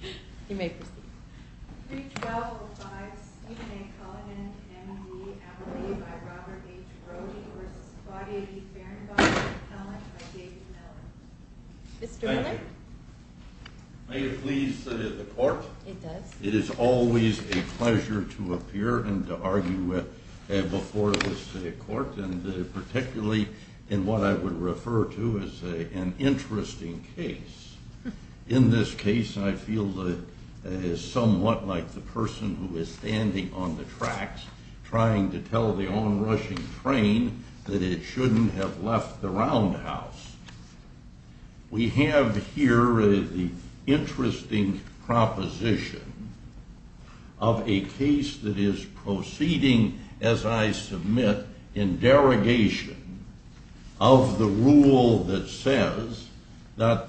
You may proceed. 3-12-05 Stephen A. Cullinan, M.E.D. Appellee by Robert H. Brody v. Claudia E. Fehrenbacher Appellant by David Mellon. Mr. Miller? May it please the Court? It does. It is always a pleasure to appear and to argue before this Court, and particularly in what I would refer to as an interesting case. In this case, I feel that it is somewhat like the person who is standing on the tracks trying to tell the onrushing train that it shouldn't have left the roundhouse. We have here the interesting proposition of a case that is proceeding, as I submit, in derogation of the rule that says that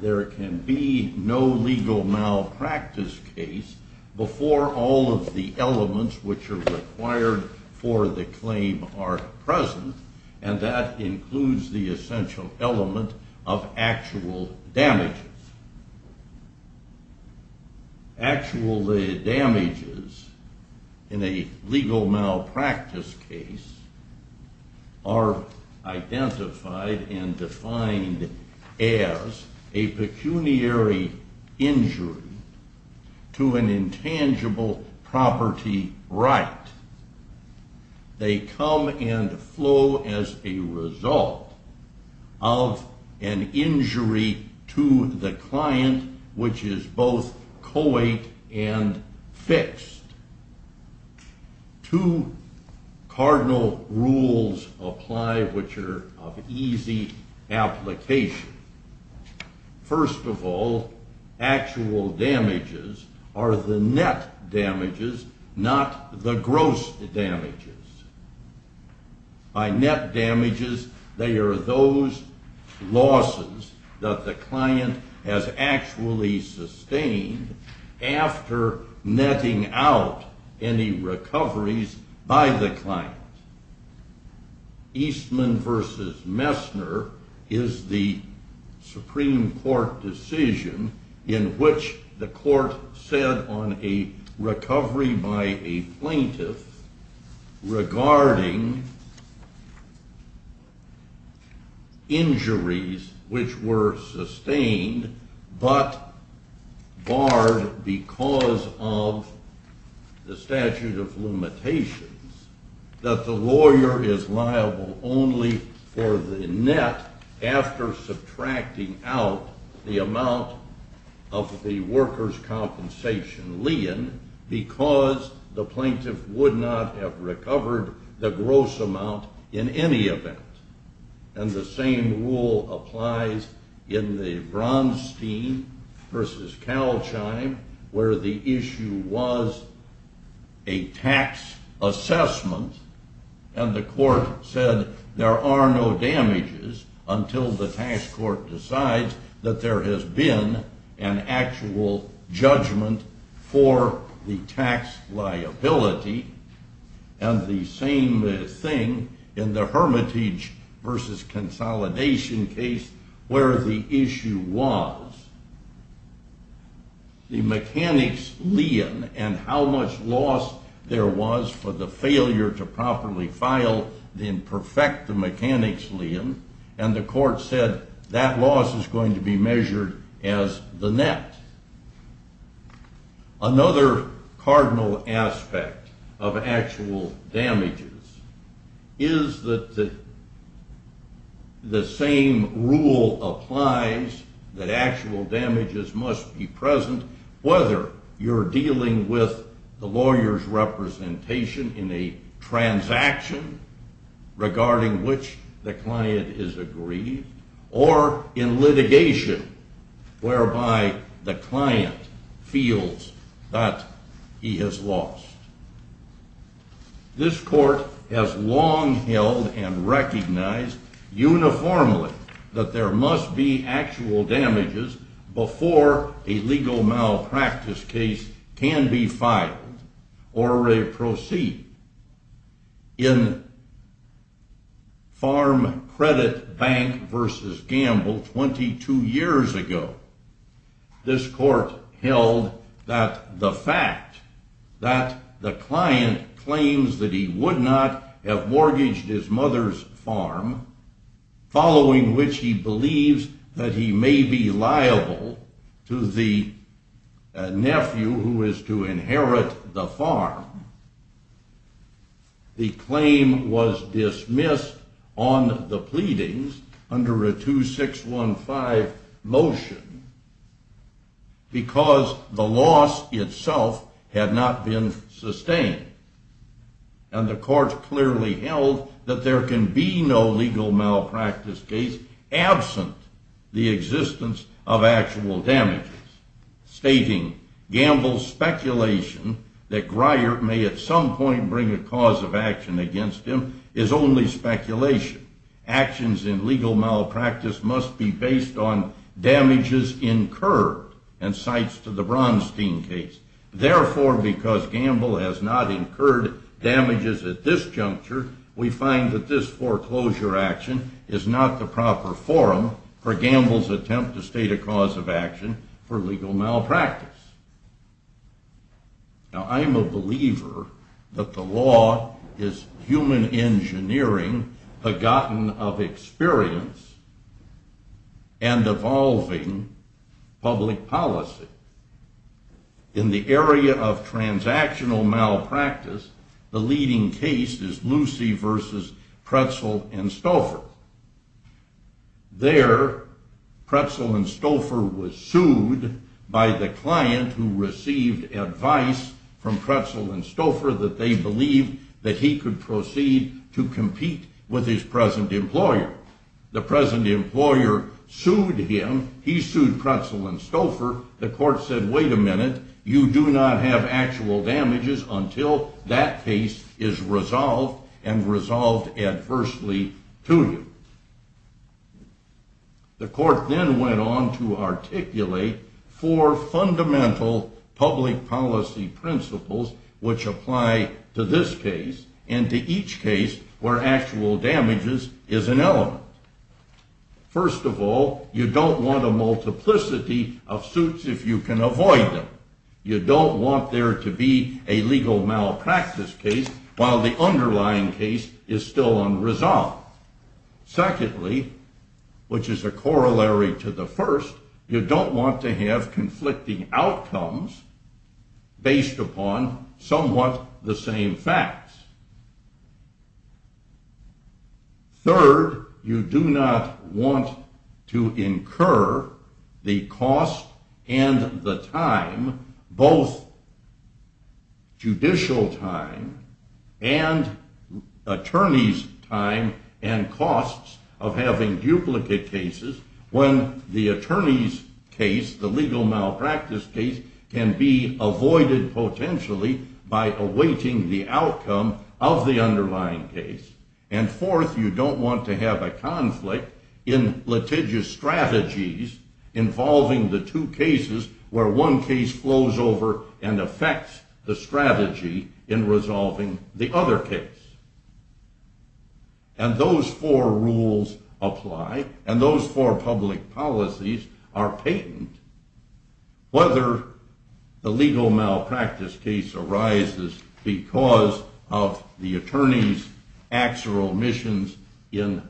there can be no legal malpractice case before all of the elements which are required for the claim are present, and that includes the essential element of actual damages. Actual damages in a legal malpractice case are identified and defined as a pecuniary injury to an intangible property right. They come and flow as a result of an injury to the client, which is both co-ed and fixed. Two cardinal rules apply which are of easy application. First of all, actual damages are the net damages, not the gross damages. By net damages, they are those losses that the client has actually sustained after netting out any recoveries by the client. Eastman v. Messner is the Supreme Court decision in which the Court said on a recovery by a plaintiff regarding injuries which were sustained but barred because of the statute of limitations that the lawyer is liable only for the net after subtracting out the amount of the workers' compensation lien because the plaintiff would not have recovered the gross amount in any event. And the same rule applies in the Bronstein v. Calchime where the issue was a tax assessment and the Court said there are no damages until the tax court decides that there has been an actual judgment for the tax liability and the same thing in the Hermitage v. Consolidation case where the issue was the mechanics lien and how much loss there was for the failure to properly file the imperfect mechanics lien and the Court said that loss is going to be measured as the net. Another cardinal aspect of actual damages is that the same rule applies that actual damages must be present whether you're dealing with the lawyer's representation in a transaction regarding which the client is aggrieved or in litigation whereby the client feels that he has lost. This Court has long held and recognized uniformly that there must be actual damages before a legal malpractice case can be filed or re-proceeded. In Farm Credit Bank v. Gamble 22 years ago, this Court held that the fact that the client claims that he would not have mortgaged his mother's farm following which he believes that he may be liable to the nephew who is to inherit the farm the claim was dismissed on the pleadings under a 2615 motion because the loss itself had not been sustained and the Court clearly held that there can be no legal malpractice case absent the existence of actual damages stating Gamble's speculation that Grier may at some point bring a cause of action against him is only speculation. Actions in legal malpractice must be based on damages incurred and cites to the Bronstein case. Therefore, because Gamble has not incurred damages at this juncture, we find that this foreclosure action is not the proper forum for Gamble's attempt to state a cause of action for legal malpractice. Now I'm a believer that the law is human engineering, forgotten of experience, and evolving public policy. In the area of transactional malpractice, the leading case is Lucy v. Pretzel and Stouffer. There, Pretzel and Stouffer was sued by the client who received advice from Pretzel and Stouffer that they believed that he could proceed to compete with his present employer. The present employer sued him. He sued Pretzel and Stouffer. The court said, wait a minute, you do not have actual damages until that case is resolved and resolved adversely to you. The court then went on to articulate four fundamental public policy principles which apply to this case and to each case where actual damages is an element. First of all, you don't want a multiplicity of suits if you can avoid them. You don't want there to be a legal malpractice case while the underlying case is still unresolved. Secondly, which is a corollary to the first, you don't want to have conflicting outcomes based upon somewhat the same facts. Third, you do not want to incur the cost and the time, both judicial time and attorney's time and costs of having duplicate cases when the attorney's case, the legal malpractice case, can be avoided potentially by awaiting the outcome of the underlying case. And fourth, you don't want to have a conflict in litigious strategies involving the two cases where one case flows over and affects the strategy in resolving the other case. And those four rules apply, and those four public policies are patent, whether the legal malpractice case arises because of the attorney's actual missions in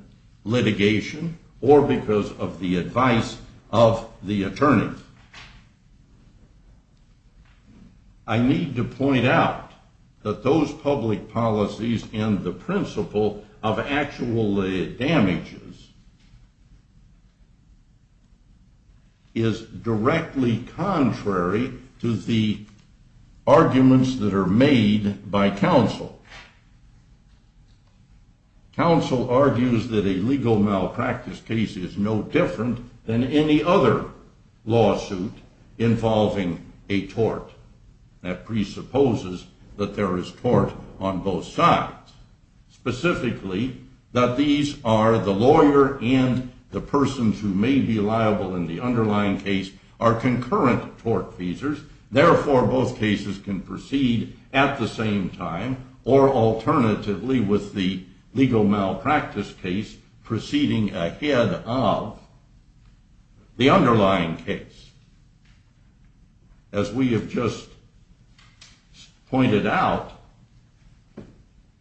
litigation or because of the advice of the attorney. Fifth, I need to point out that those public policies and the principle of actual damages is directly contrary to the arguments that are made by counsel. Counsel argues that a legal malpractice case is no different than any other lawsuit involving a tort. That presupposes that there is tort on both sides, specifically that these are the lawyer and the persons who may be liable in the underlying case are concurrent tort feasors, therefore both cases can proceed at the same time or alternatively with the legal malpractice case proceeding ahead of the underlying case. As we have just pointed out,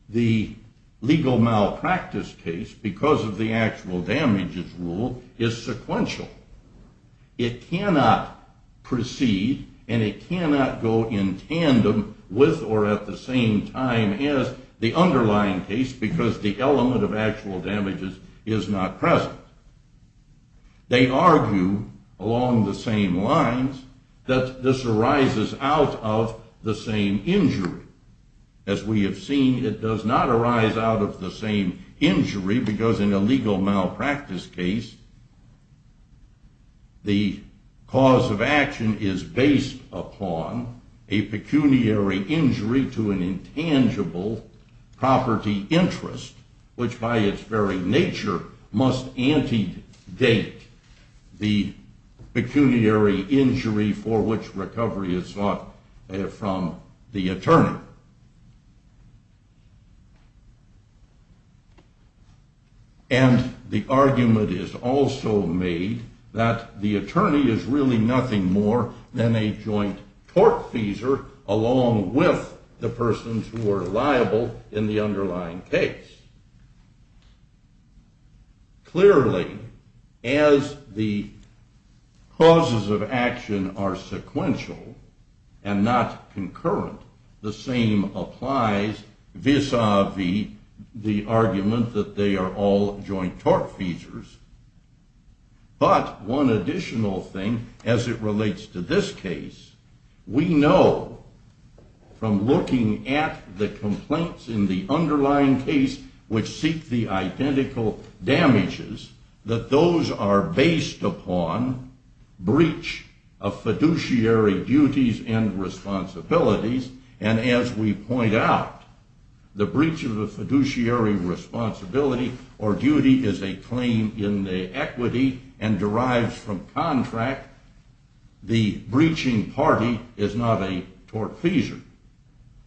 the legal malpractice case, because of the actual damages rule, is sequential. It cannot proceed and it cannot go in tandem with or at the same time as the underlying case because the element of actual damages is not present. They argue along the same lines that this arises out of the same injury. As we have seen, it does not arise out of the same injury because in a legal malpractice case, the cause of action is based upon a pecuniary injury to an intangible property interest, which by its very nature must antedate the pecuniary injury for which recovery is sought from the attorney. And the argument is also made that the attorney is really nothing more than a joint tort feasor along with the persons who are liable in the underlying case. Clearly, as the causes of action are sequential and not concurrent, the same applies vis-a-vis the argument that they are all joint tort feasors. But one additional thing as it relates to this case, we know from looking at the complaints in the underlying case which seek the identical damages, that those are based upon breach of fiduciary duties and responsibilities. And as we point out, the breach of the fiduciary responsibility or duty is a claim in the equity and derives from contract. The breaching party is not a tort feasor.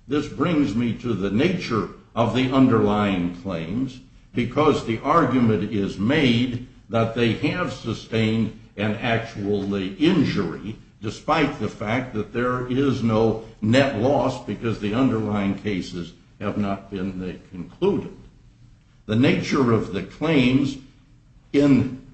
This brings me to the nature of the underlying claims because the argument is made that they have sustained an actual injury despite the fact that there is no net loss because the underlying cases have not been concluded. The nature of the claims in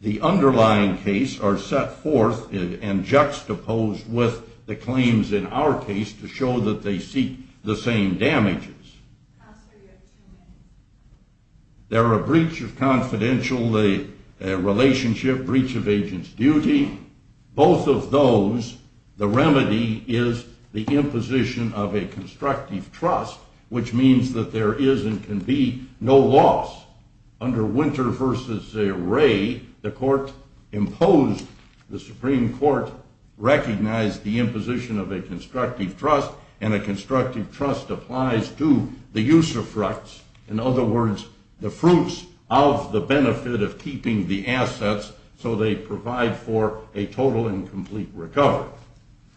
the underlying case are set forth and juxtaposed with the claims in our case to show that they seek the same damages. There are breach of confidential relationship, breach of agent's duty. Both of those, the remedy is the imposition of a constructive trust, which means that there is and can be no loss. Under Winter v. Wray, the Supreme Court recognized the imposition of a constructive trust, and a constructive trust applies to the use of rights. In other words, the fruits of the benefit of keeping the assets so they provide for a total and complete recovery.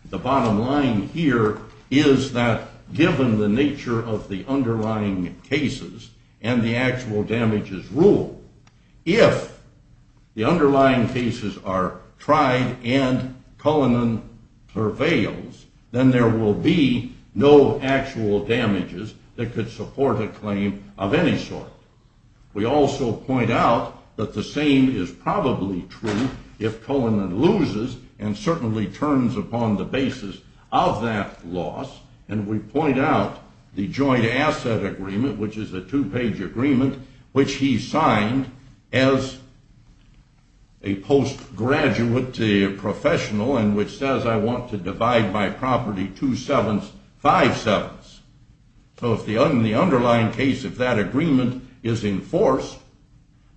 The bottom line here is that given the nature of the underlying cases and the actual damages rule, if the underlying cases are tried and Cullinan prevails, then there will be no actual damages that could support a claim of any sort. We also point out that the same is probably true if Cullinan loses and certainly turns upon the basis of that loss, and we point out the joint asset agreement, which is a two-page agreement, which he signed as a post-graduate professional and which says I want to divide by property two-sevenths, five-sevenths. So if the underlying case of that agreement is enforced,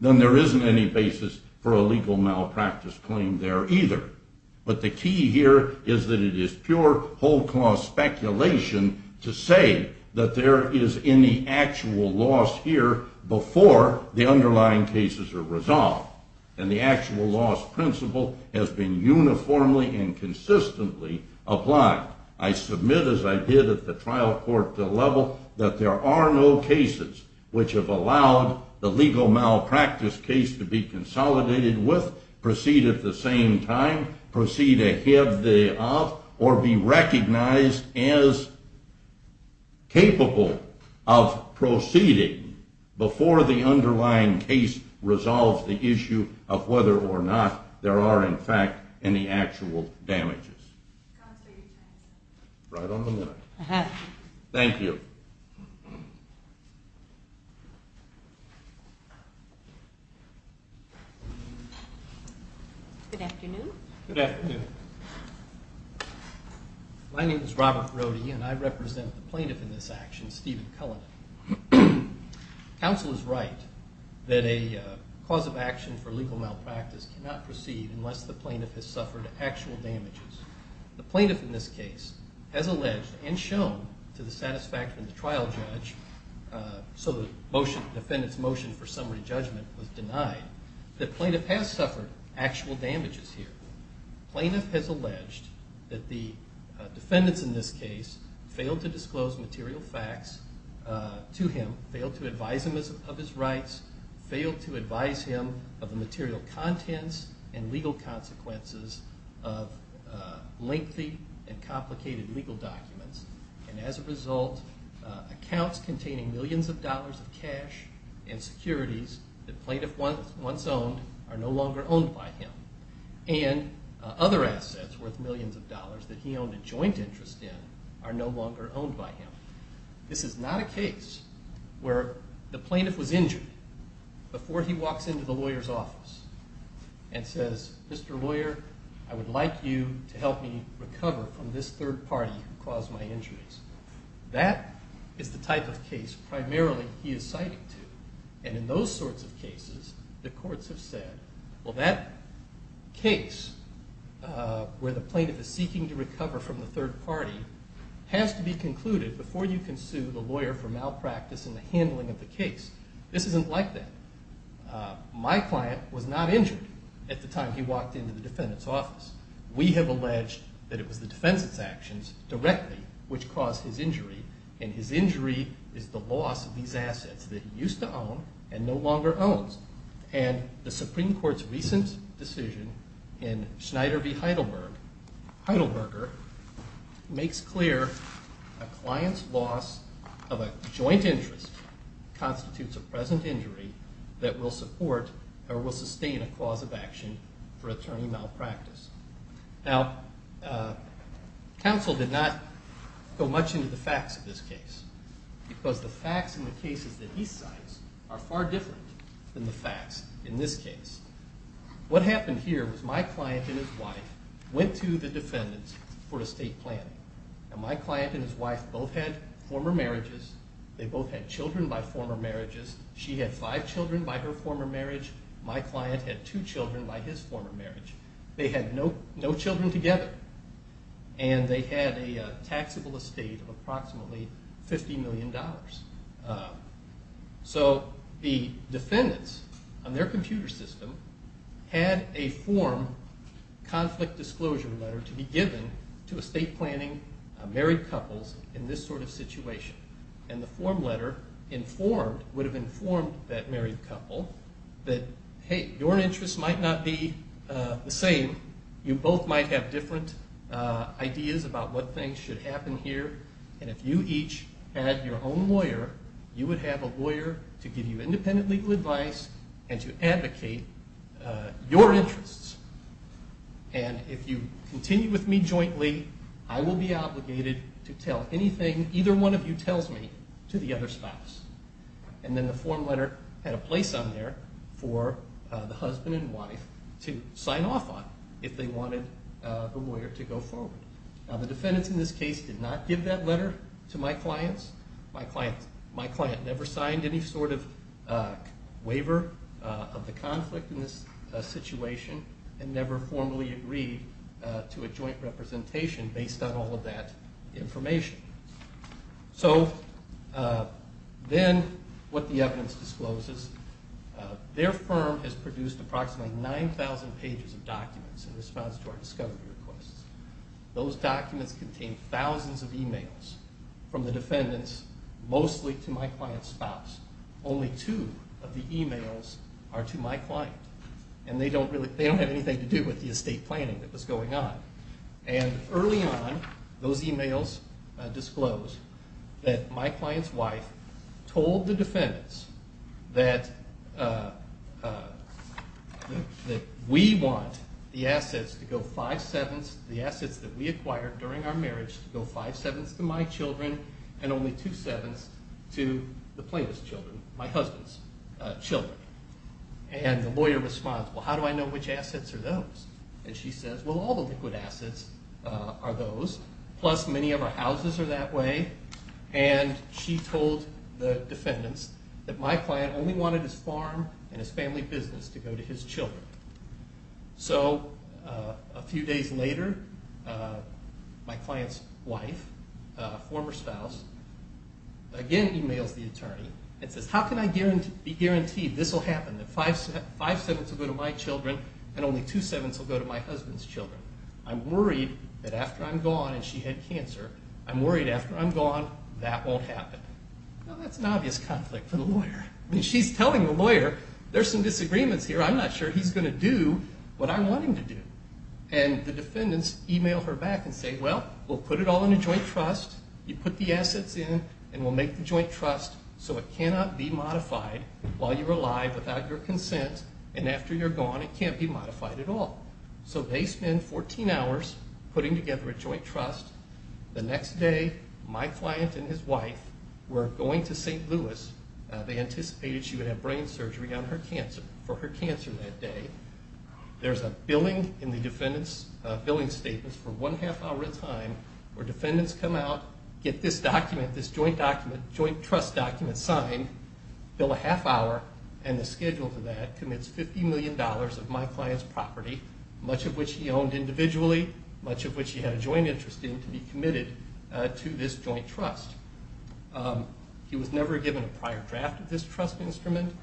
then there isn't any basis for a legal malpractice claim there either. But the key here is that it is pure whole cause speculation to say that there is any actual loss here before the underlying cases are resolved. And the actual loss principle has been uniformly and consistently applied. I submit, as I did at the trial court level, that there are no cases which have allowed the legal malpractice case to be consolidated with, proceed at the same time, proceed ahead of, or be recognized as capable of proceeding before the underlying case resolves the issue. of whether or not there are, in fact, any actual damages. Right on the mark. Thank you. Good afternoon. My name is Robert Brody and I represent the plaintiff in this action, Stephen Cullinan. Counsel is right that a cause of action for legal malpractice cannot proceed unless the plaintiff has suffered actual damages. The plaintiff in this case has alleged and shown to the satisfaction of the trial judge, so the defendant's motion for summary judgment was denied, that the plaintiff has suffered actual damages here. Plaintiff has alleged that the defendants in this case failed to disclose material facts to him, failed to advise him of his rights, failed to advise him of the material contents and legal consequences of lengthy and complicated legal documents, and as a result, accounts containing millions of dollars of cash and securities that plaintiff once owned are no longer owned by him. And other assets worth millions of dollars that he owned a joint interest in are no longer owned by him. This is not a case where the plaintiff was injured before he walks into the lawyer's office and says, Mr. Lawyer, I would like you to help me recover from this third party who caused my injuries. That is the type of case primarily he is citing to. And in those sorts of cases, the courts have said, well, that case where the plaintiff is seeking to recover from the third party has to be concluded before you can sue the lawyer for malpractice in the handling of the case. This isn't like that. My client was not injured at the time he walked into the defendant's office. We have alleged that it was the defendant's actions directly which caused his injury, and his injury is the loss of these assets that he used to own and no longer owns. And the Supreme Court's recent decision in Schneider v. Heidelberger makes clear a client's loss of a joint interest constitutes a present injury that will support or will sustain a clause of action for attorney malpractice. Now, counsel did not go much into the facts of this case because the facts in the cases that he cites are far different than the facts in this case. What happened here was my client and his wife went to the defendants for estate planning. And my client and his wife both had former marriages. They both had children by former marriages. She had five children by her former marriage. My client had two children by his former marriage. They had no children together. And they had a taxable estate of approximately $50 million. So the defendants on their computer system had a form, conflict disclosure letter, to be given to estate planning married couples in this sort of situation. And the form letter informed, would have informed that married couple that, hey, your interests might not be the same. You both might have different ideas about what things should happen here. And if you each had your own lawyer, you would have a lawyer to give you independent legal advice and to advocate your interests. And if you continue with me jointly, I will be obligated to tell anything either one of you tells me to the other spouse. And then the form letter had a place on there for the husband and wife to sign off on if they wanted the lawyer to go forward. Now the defendants in this case did not give that letter to my clients. My client never signed any sort of waiver of the conflict in this situation and never formally agreed to a joint representation based on all of that information. So then what the evidence discloses, their firm has produced approximately 9,000 pages of documents in response to our discovery requests. Those documents contain thousands of emails from the defendants, mostly to my client's spouse. Only two of the emails are to my client. And they don't have anything to do with the estate planning that was going on. And early on, those emails disclosed that my client's wife told the defendants that we want the assets that we acquired during our marriage to go five-sevenths to my children and only two-sevenths to the plaintiff's children, my husband's children. And the lawyer responds, well how do I know which assets are those? And she says, well all the liquid assets are those, plus many of our houses are that way. And she told the defendants that my client only wanted his farm and his family business to go to his children. So a few days later, my client's wife, a former spouse, again emails the attorney and says, how can I be guaranteed this will happen, that five-sevenths will go to my children and only two-sevenths will go to my husband's children? I'm worried that after I'm gone and she had cancer, I'm worried after I'm gone that won't happen. Well, that's an obvious conflict for the lawyer. I mean, she's telling the lawyer, there's some disagreements here. I'm not sure he's going to do what I want him to do. And the defendants email her back and say, well, we'll put it all in a joint trust. You put the assets in and we'll make the joint trust so it cannot be modified while you're alive without your consent. And after you're gone, it can't be modified at all. So they spend 14 hours putting together a joint trust. The next day, my client and his wife were going to St. Louis. They anticipated she would have brain surgery for her cancer that day. There's a billing in the defendant's billing statements for one-half hour at a time where defendants come out, get this document, this joint trust document signed, bill a half hour, and the schedule for that commits $50 million of my client's property. Much of which he owned individually, much of which he had a joint interest in to be committed to this joint trust. He was never given a prior draft of this trust instrument.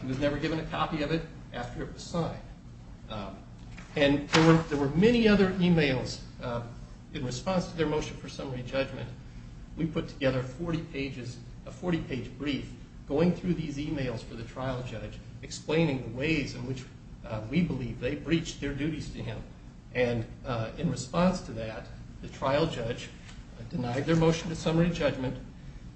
He was never given a copy of it after it was signed. And there were many other emails in response to their motion for summary judgment. We put together a 40-page brief going through these emails for the trial judge explaining the ways in which we believe they breached their duties to him. And in response to that, the trial judge denied their motion to summary judgment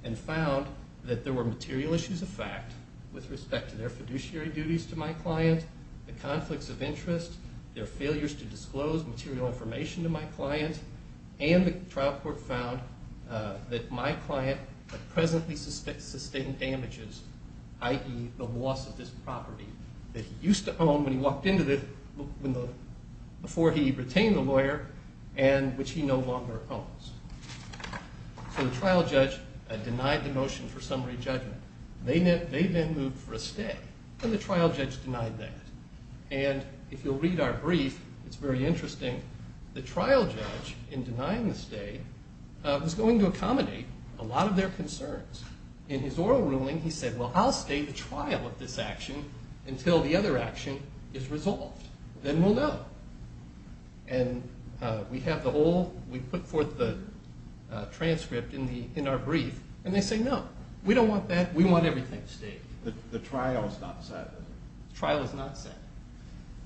and found that there were material issues of fact with respect to their fiduciary duties to my client, the conflicts of interest, their failures to disclose material information to my client. And the trial court found that my client had presently sustained damages, i.e. the loss of this property that he used to own before he retained the lawyer and which he no longer owns. So the trial judge denied the motion for summary judgment. They then moved for a stay, and the trial judge denied that. And if you'll read our brief, it's very interesting. The trial judge, in denying the stay, was going to accommodate a lot of their concerns. In his oral ruling, he said, well, I'll stay the trial of this action until the other action is resolved. Then we'll know. And we put forth the transcript in our brief, and they say, no, we don't want that. We want everything to stay. The trial is not set. The trial is not set.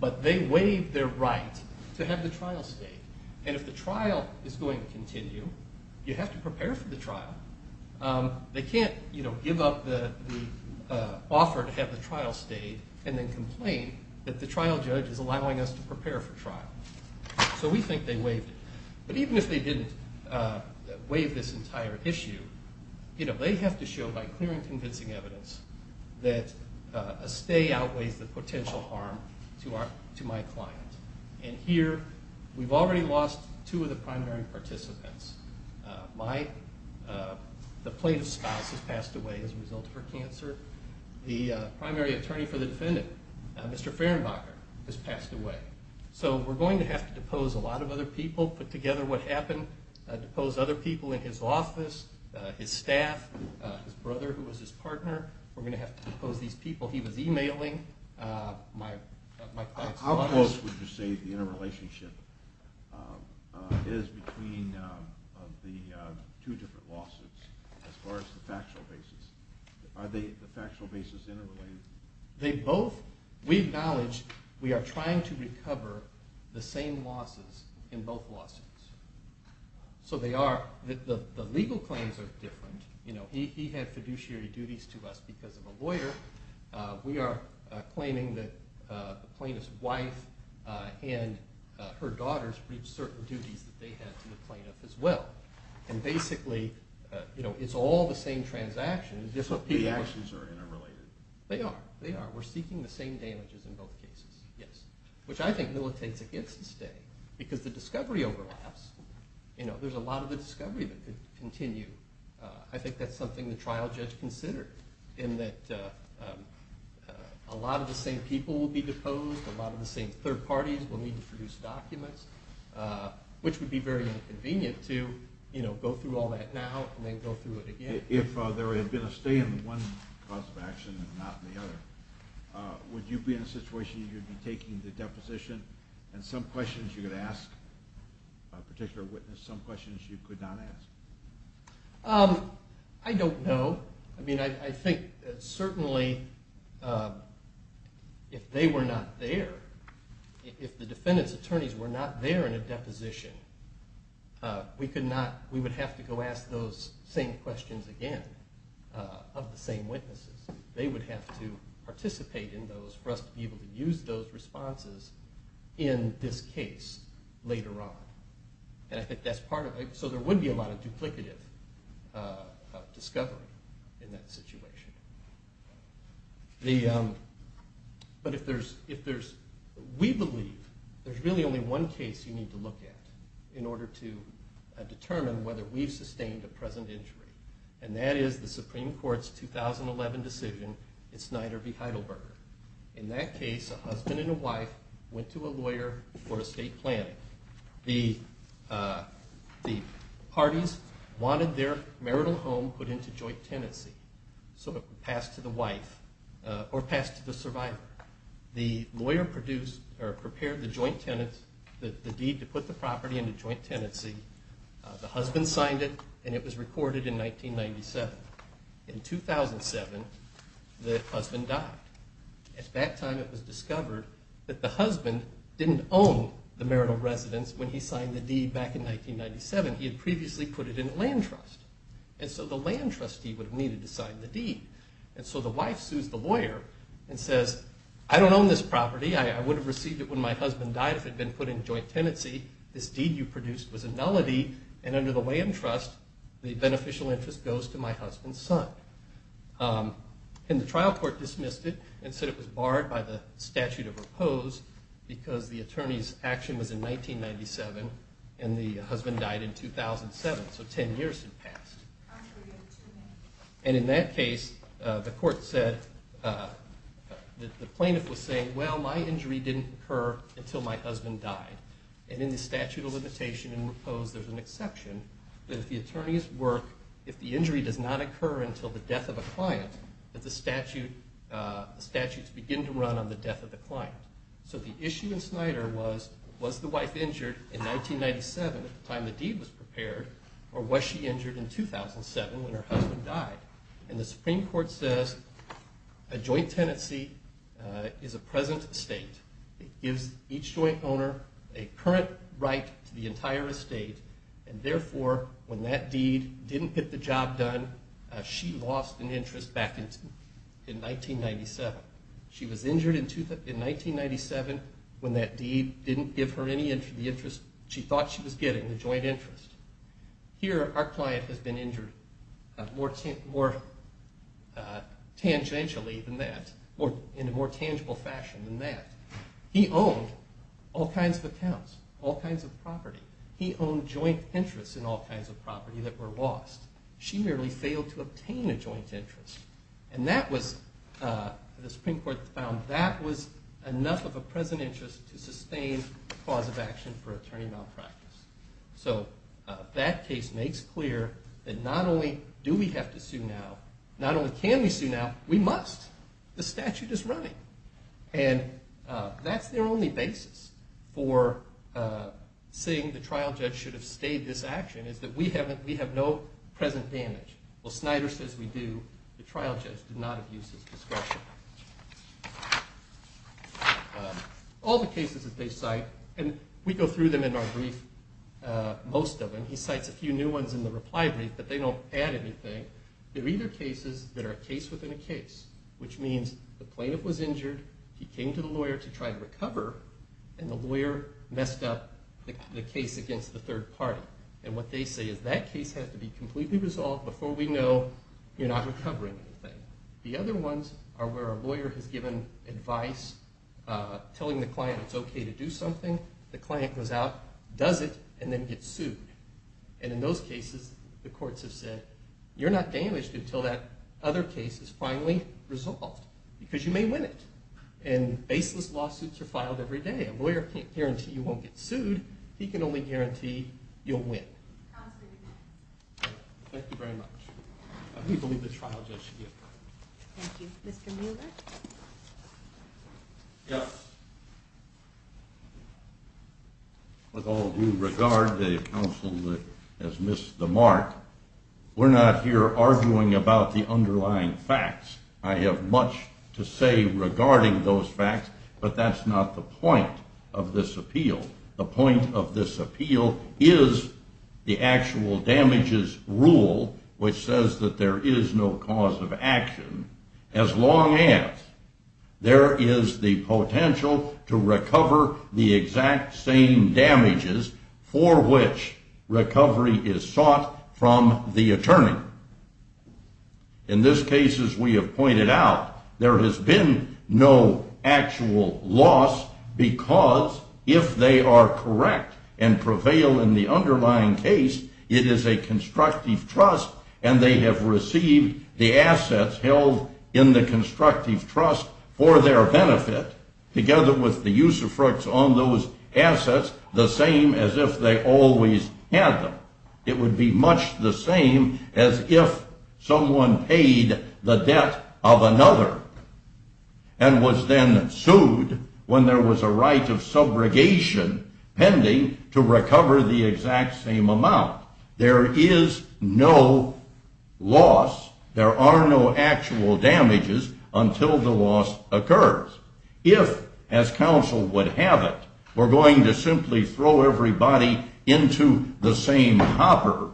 But they waived their right to have the trial stay. And if the trial is going to continue, you have to prepare for the trial. They can't give up the offer to have the trial stay and then complain that the trial judge is allowing us to prepare for trial. So we think they waived it. But even if they didn't waive this entire issue, they have to show by clear and convincing evidence that a stay outweighs the potential harm to my client. And here, we've already lost two of the primary participants. Mike, the plaintiff's spouse, has passed away as a result of her cancer. The primary attorney for the defendant, Mr. Fehrenbacher, has passed away. So we're going to have to depose a lot of other people, put together what happened, depose other people in his office, his staff, his brother who was his partner. We're going to have to depose these people. He was emailing my clients. How close would you say the interrelationship is between the two different lawsuits as far as the factual basis? Are the factual basis interrelated? We acknowledge we are trying to recover the same losses in both lawsuits. So the legal claims are different. He had fiduciary duties to us because of a lawyer. We are claiming that the plaintiff's wife and her daughters reached certain duties that they had to the plaintiff as well. And basically, it's all the same transactions. So the actions are interrelated? They are. They are. We're seeking the same damages in both cases, yes. Which I think militates against the stay because the discovery overlaps. There's a lot of the discovery that could continue. I think that's something the trial judge considered in that a lot of the same people will be deposed, a lot of the same third parties will need to produce documents, which would be very inconvenient to go through all that now and then go through it again. If there had been a stay in one cause of action and not the other, would you be in a situation where you would be taking the deposition and some questions you could ask a particular witness, some questions you could not ask? I don't know. I mean, I think certainly if they were not there, if the defendant's attorneys were not there in a deposition, we would have to go ask those same questions again of the same witnesses. They would have to participate in those for us to be able to use those responses in this case later on. And I think that's part of it. So there would be a lot of duplicative discovery in that situation. But we believe there's really only one case you need to look at in order to determine whether we've sustained a present injury, and that is the Supreme Court's 2011 decision in Snyder v. Heidelberger. In that case, a husband and a wife went to a lawyer for estate planning. The parties wanted their marital home put into joint tenancy, so it would pass to the wife or pass to the survivor. The lawyer prepared the deed to put the property into joint tenancy. The husband signed it, and it was recorded in 1997. In 2007, the husband died. At that time, it was discovered that the husband didn't own the marital residence when he signed the deed back in 1997. He had previously put it in a land trust, and so the land trustee would have needed to sign the deed. And so the wife sues the lawyer and says, I don't own this property. I would have received it when my husband died if it had been put in joint tenancy. This deed you produced was a nullity, and under the land trust, the beneficial interest goes to my husband's son. And the trial court dismissed it and said it was barred by the statute of repose because the attorney's action was in 1997, and the husband died in 2007, so ten years had passed. And in that case, the plaintiff was saying, well, my injury didn't occur until my husband died. And in the statute of limitation and repose, there's an exception that if the attorney's work, if the injury does not occur until the death of a client, that the statutes begin to run on the death of the client. So the issue in Snyder was, was the wife injured in 1997 at the time the deed was prepared, or was she injured in 2007 when her husband died? And the Supreme Court says a joint tenancy is a present estate. It gives each joint owner a current right to the entire estate, and therefore, when that deed didn't get the job done, she lost an interest back in 1997. She was injured in 1997 when that deed didn't give her any interest. She thought she was getting the joint interest. Here, our client has been injured more tangentially than that, or in a more tangible fashion than that. He owned all kinds of accounts, all kinds of property. He owned joint interests in all kinds of property that were lost. She merely failed to obtain a joint interest. And that was, the Supreme Court found that was enough of a present interest to sustain the cause of action for attorney malpractice. So that case makes clear that not only do we have to sue now, not only can we sue now, we must. The statute is running. And that's their only basis for saying the trial judge should have stayed this action, is that we have no present damage. Well, Snyder says we do. The trial judge did not abuse his discretion. All the cases that they cite, and we go through them in our brief, most of them. He cites a few new ones in the reply brief, but they don't add anything. They're either cases that are a case within a case, which means the plaintiff was injured, he came to the lawyer to try to recover, and the lawyer messed up the case against the third party. And what they say is that case has to be completely resolved before we know you're not recovering anything. The other ones are where a lawyer has given advice, telling the client it's okay to do something, the client goes out, does it, and then gets sued. And in those cases, the courts have said, you're not damaged until that other case is finally resolved, because you may win it. And baseless lawsuits are filed every day. A lawyer can't guarantee you won't get sued, he can only guarantee you'll win. Thank you very much. And we believe the trial judge should get that. Thank you. Mr. Mueller? Yes. With all due regard, the counsel has missed the mark. We're not here arguing about the underlying facts. I have much to say regarding those facts, but that's not the point of this appeal. The point of this appeal is the actual damages rule, which says that there is no cause of action as long as there is the potential to recover the exact same damages for which recovery is sought from the attorney. In this case, as we have pointed out, there has been no actual loss, because if they are correct and prevail in the underlying case, it is a constructive trust, and they have received the assets held in the constructive trust for their benefit, together with the usufructs on those assets, the same as if they always had them. It would be much the same as if someone paid the debt of another and was then sued when there was a right of subrogation pending to recover the exact same amount. There is no loss. There are no actual damages until the loss occurs. If, as counsel would have it, we're going to simply throw everybody into the same hopper,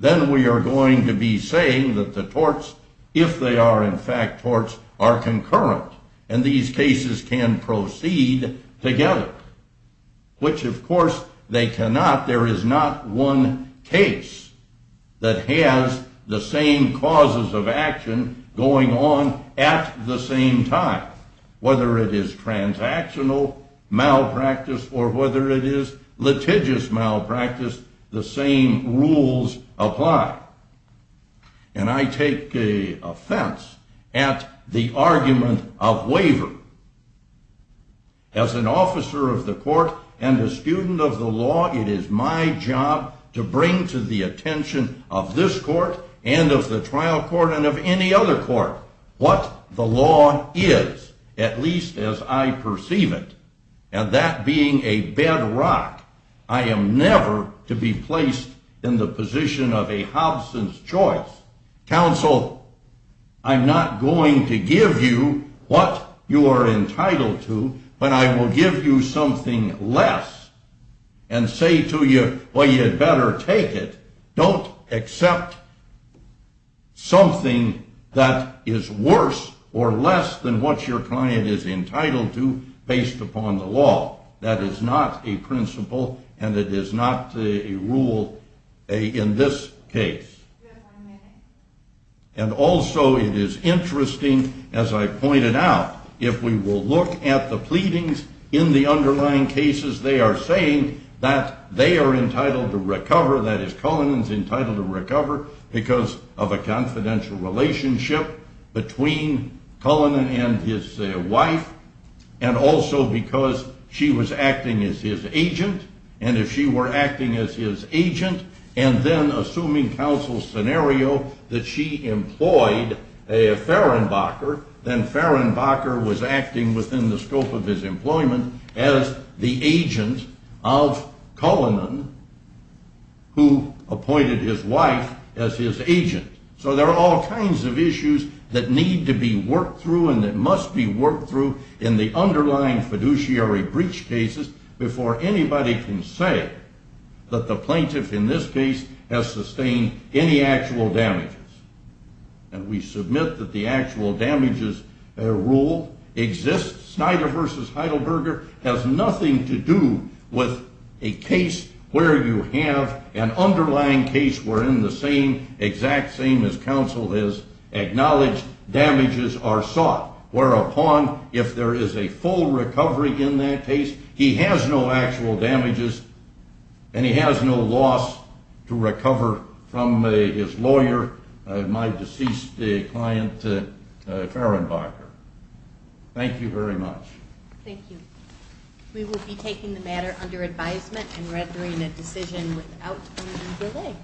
then we are going to be saying that the torts, if they are in fact torts, are concurrent, and these cases can proceed together. Which, of course, they cannot. There is not one case that has the same causes of action going on at the same time. Whether it is transactional malpractice or whether it is litigious malpractice, the same rules apply. And I take offense at the argument of waiver. As an officer of the court and a student of the law, it is my job to bring to the attention of this court and of the trial court and of any other court what the law is, at least as I perceive it. And that being a bedrock, I am never to be placed in the position of a hobson's choice. Counsel, I'm not going to give you what you are entitled to, but I will give you something less and say to you, well, you had better take it. Don't accept something that is worse or less than what your client is entitled to based upon the law. That is not a principle, and it is not a rule in this case. And also, it is interesting, as I pointed out, if we will look at the pleadings in the underlying cases, they are saying that they are entitled to recover, that is, Cullinan is entitled to recover because of a confidential relationship between Cullinan and his wife, and also because she was acting as his agent, and if she were acting as his agent, and then assuming counsel's scenario that she employed Fehrenbacher, then Fehrenbacher was acting within the scope of his employment as the agent of Cullinan, who appointed his wife as his agent. So there are all kinds of issues that need to be worked through and that must be worked through in the underlying fiduciary breach cases before anybody can say that the plaintiff in this case has sustained any actual damages. And we submit that the actual damages rule exists. Snyder v. Heidelberger has nothing to do with a case where you have an underlying case wherein the same, exact same as counsel has acknowledged, damages are sought. We will be taking the matter under advisement and rendering a decision without any delay.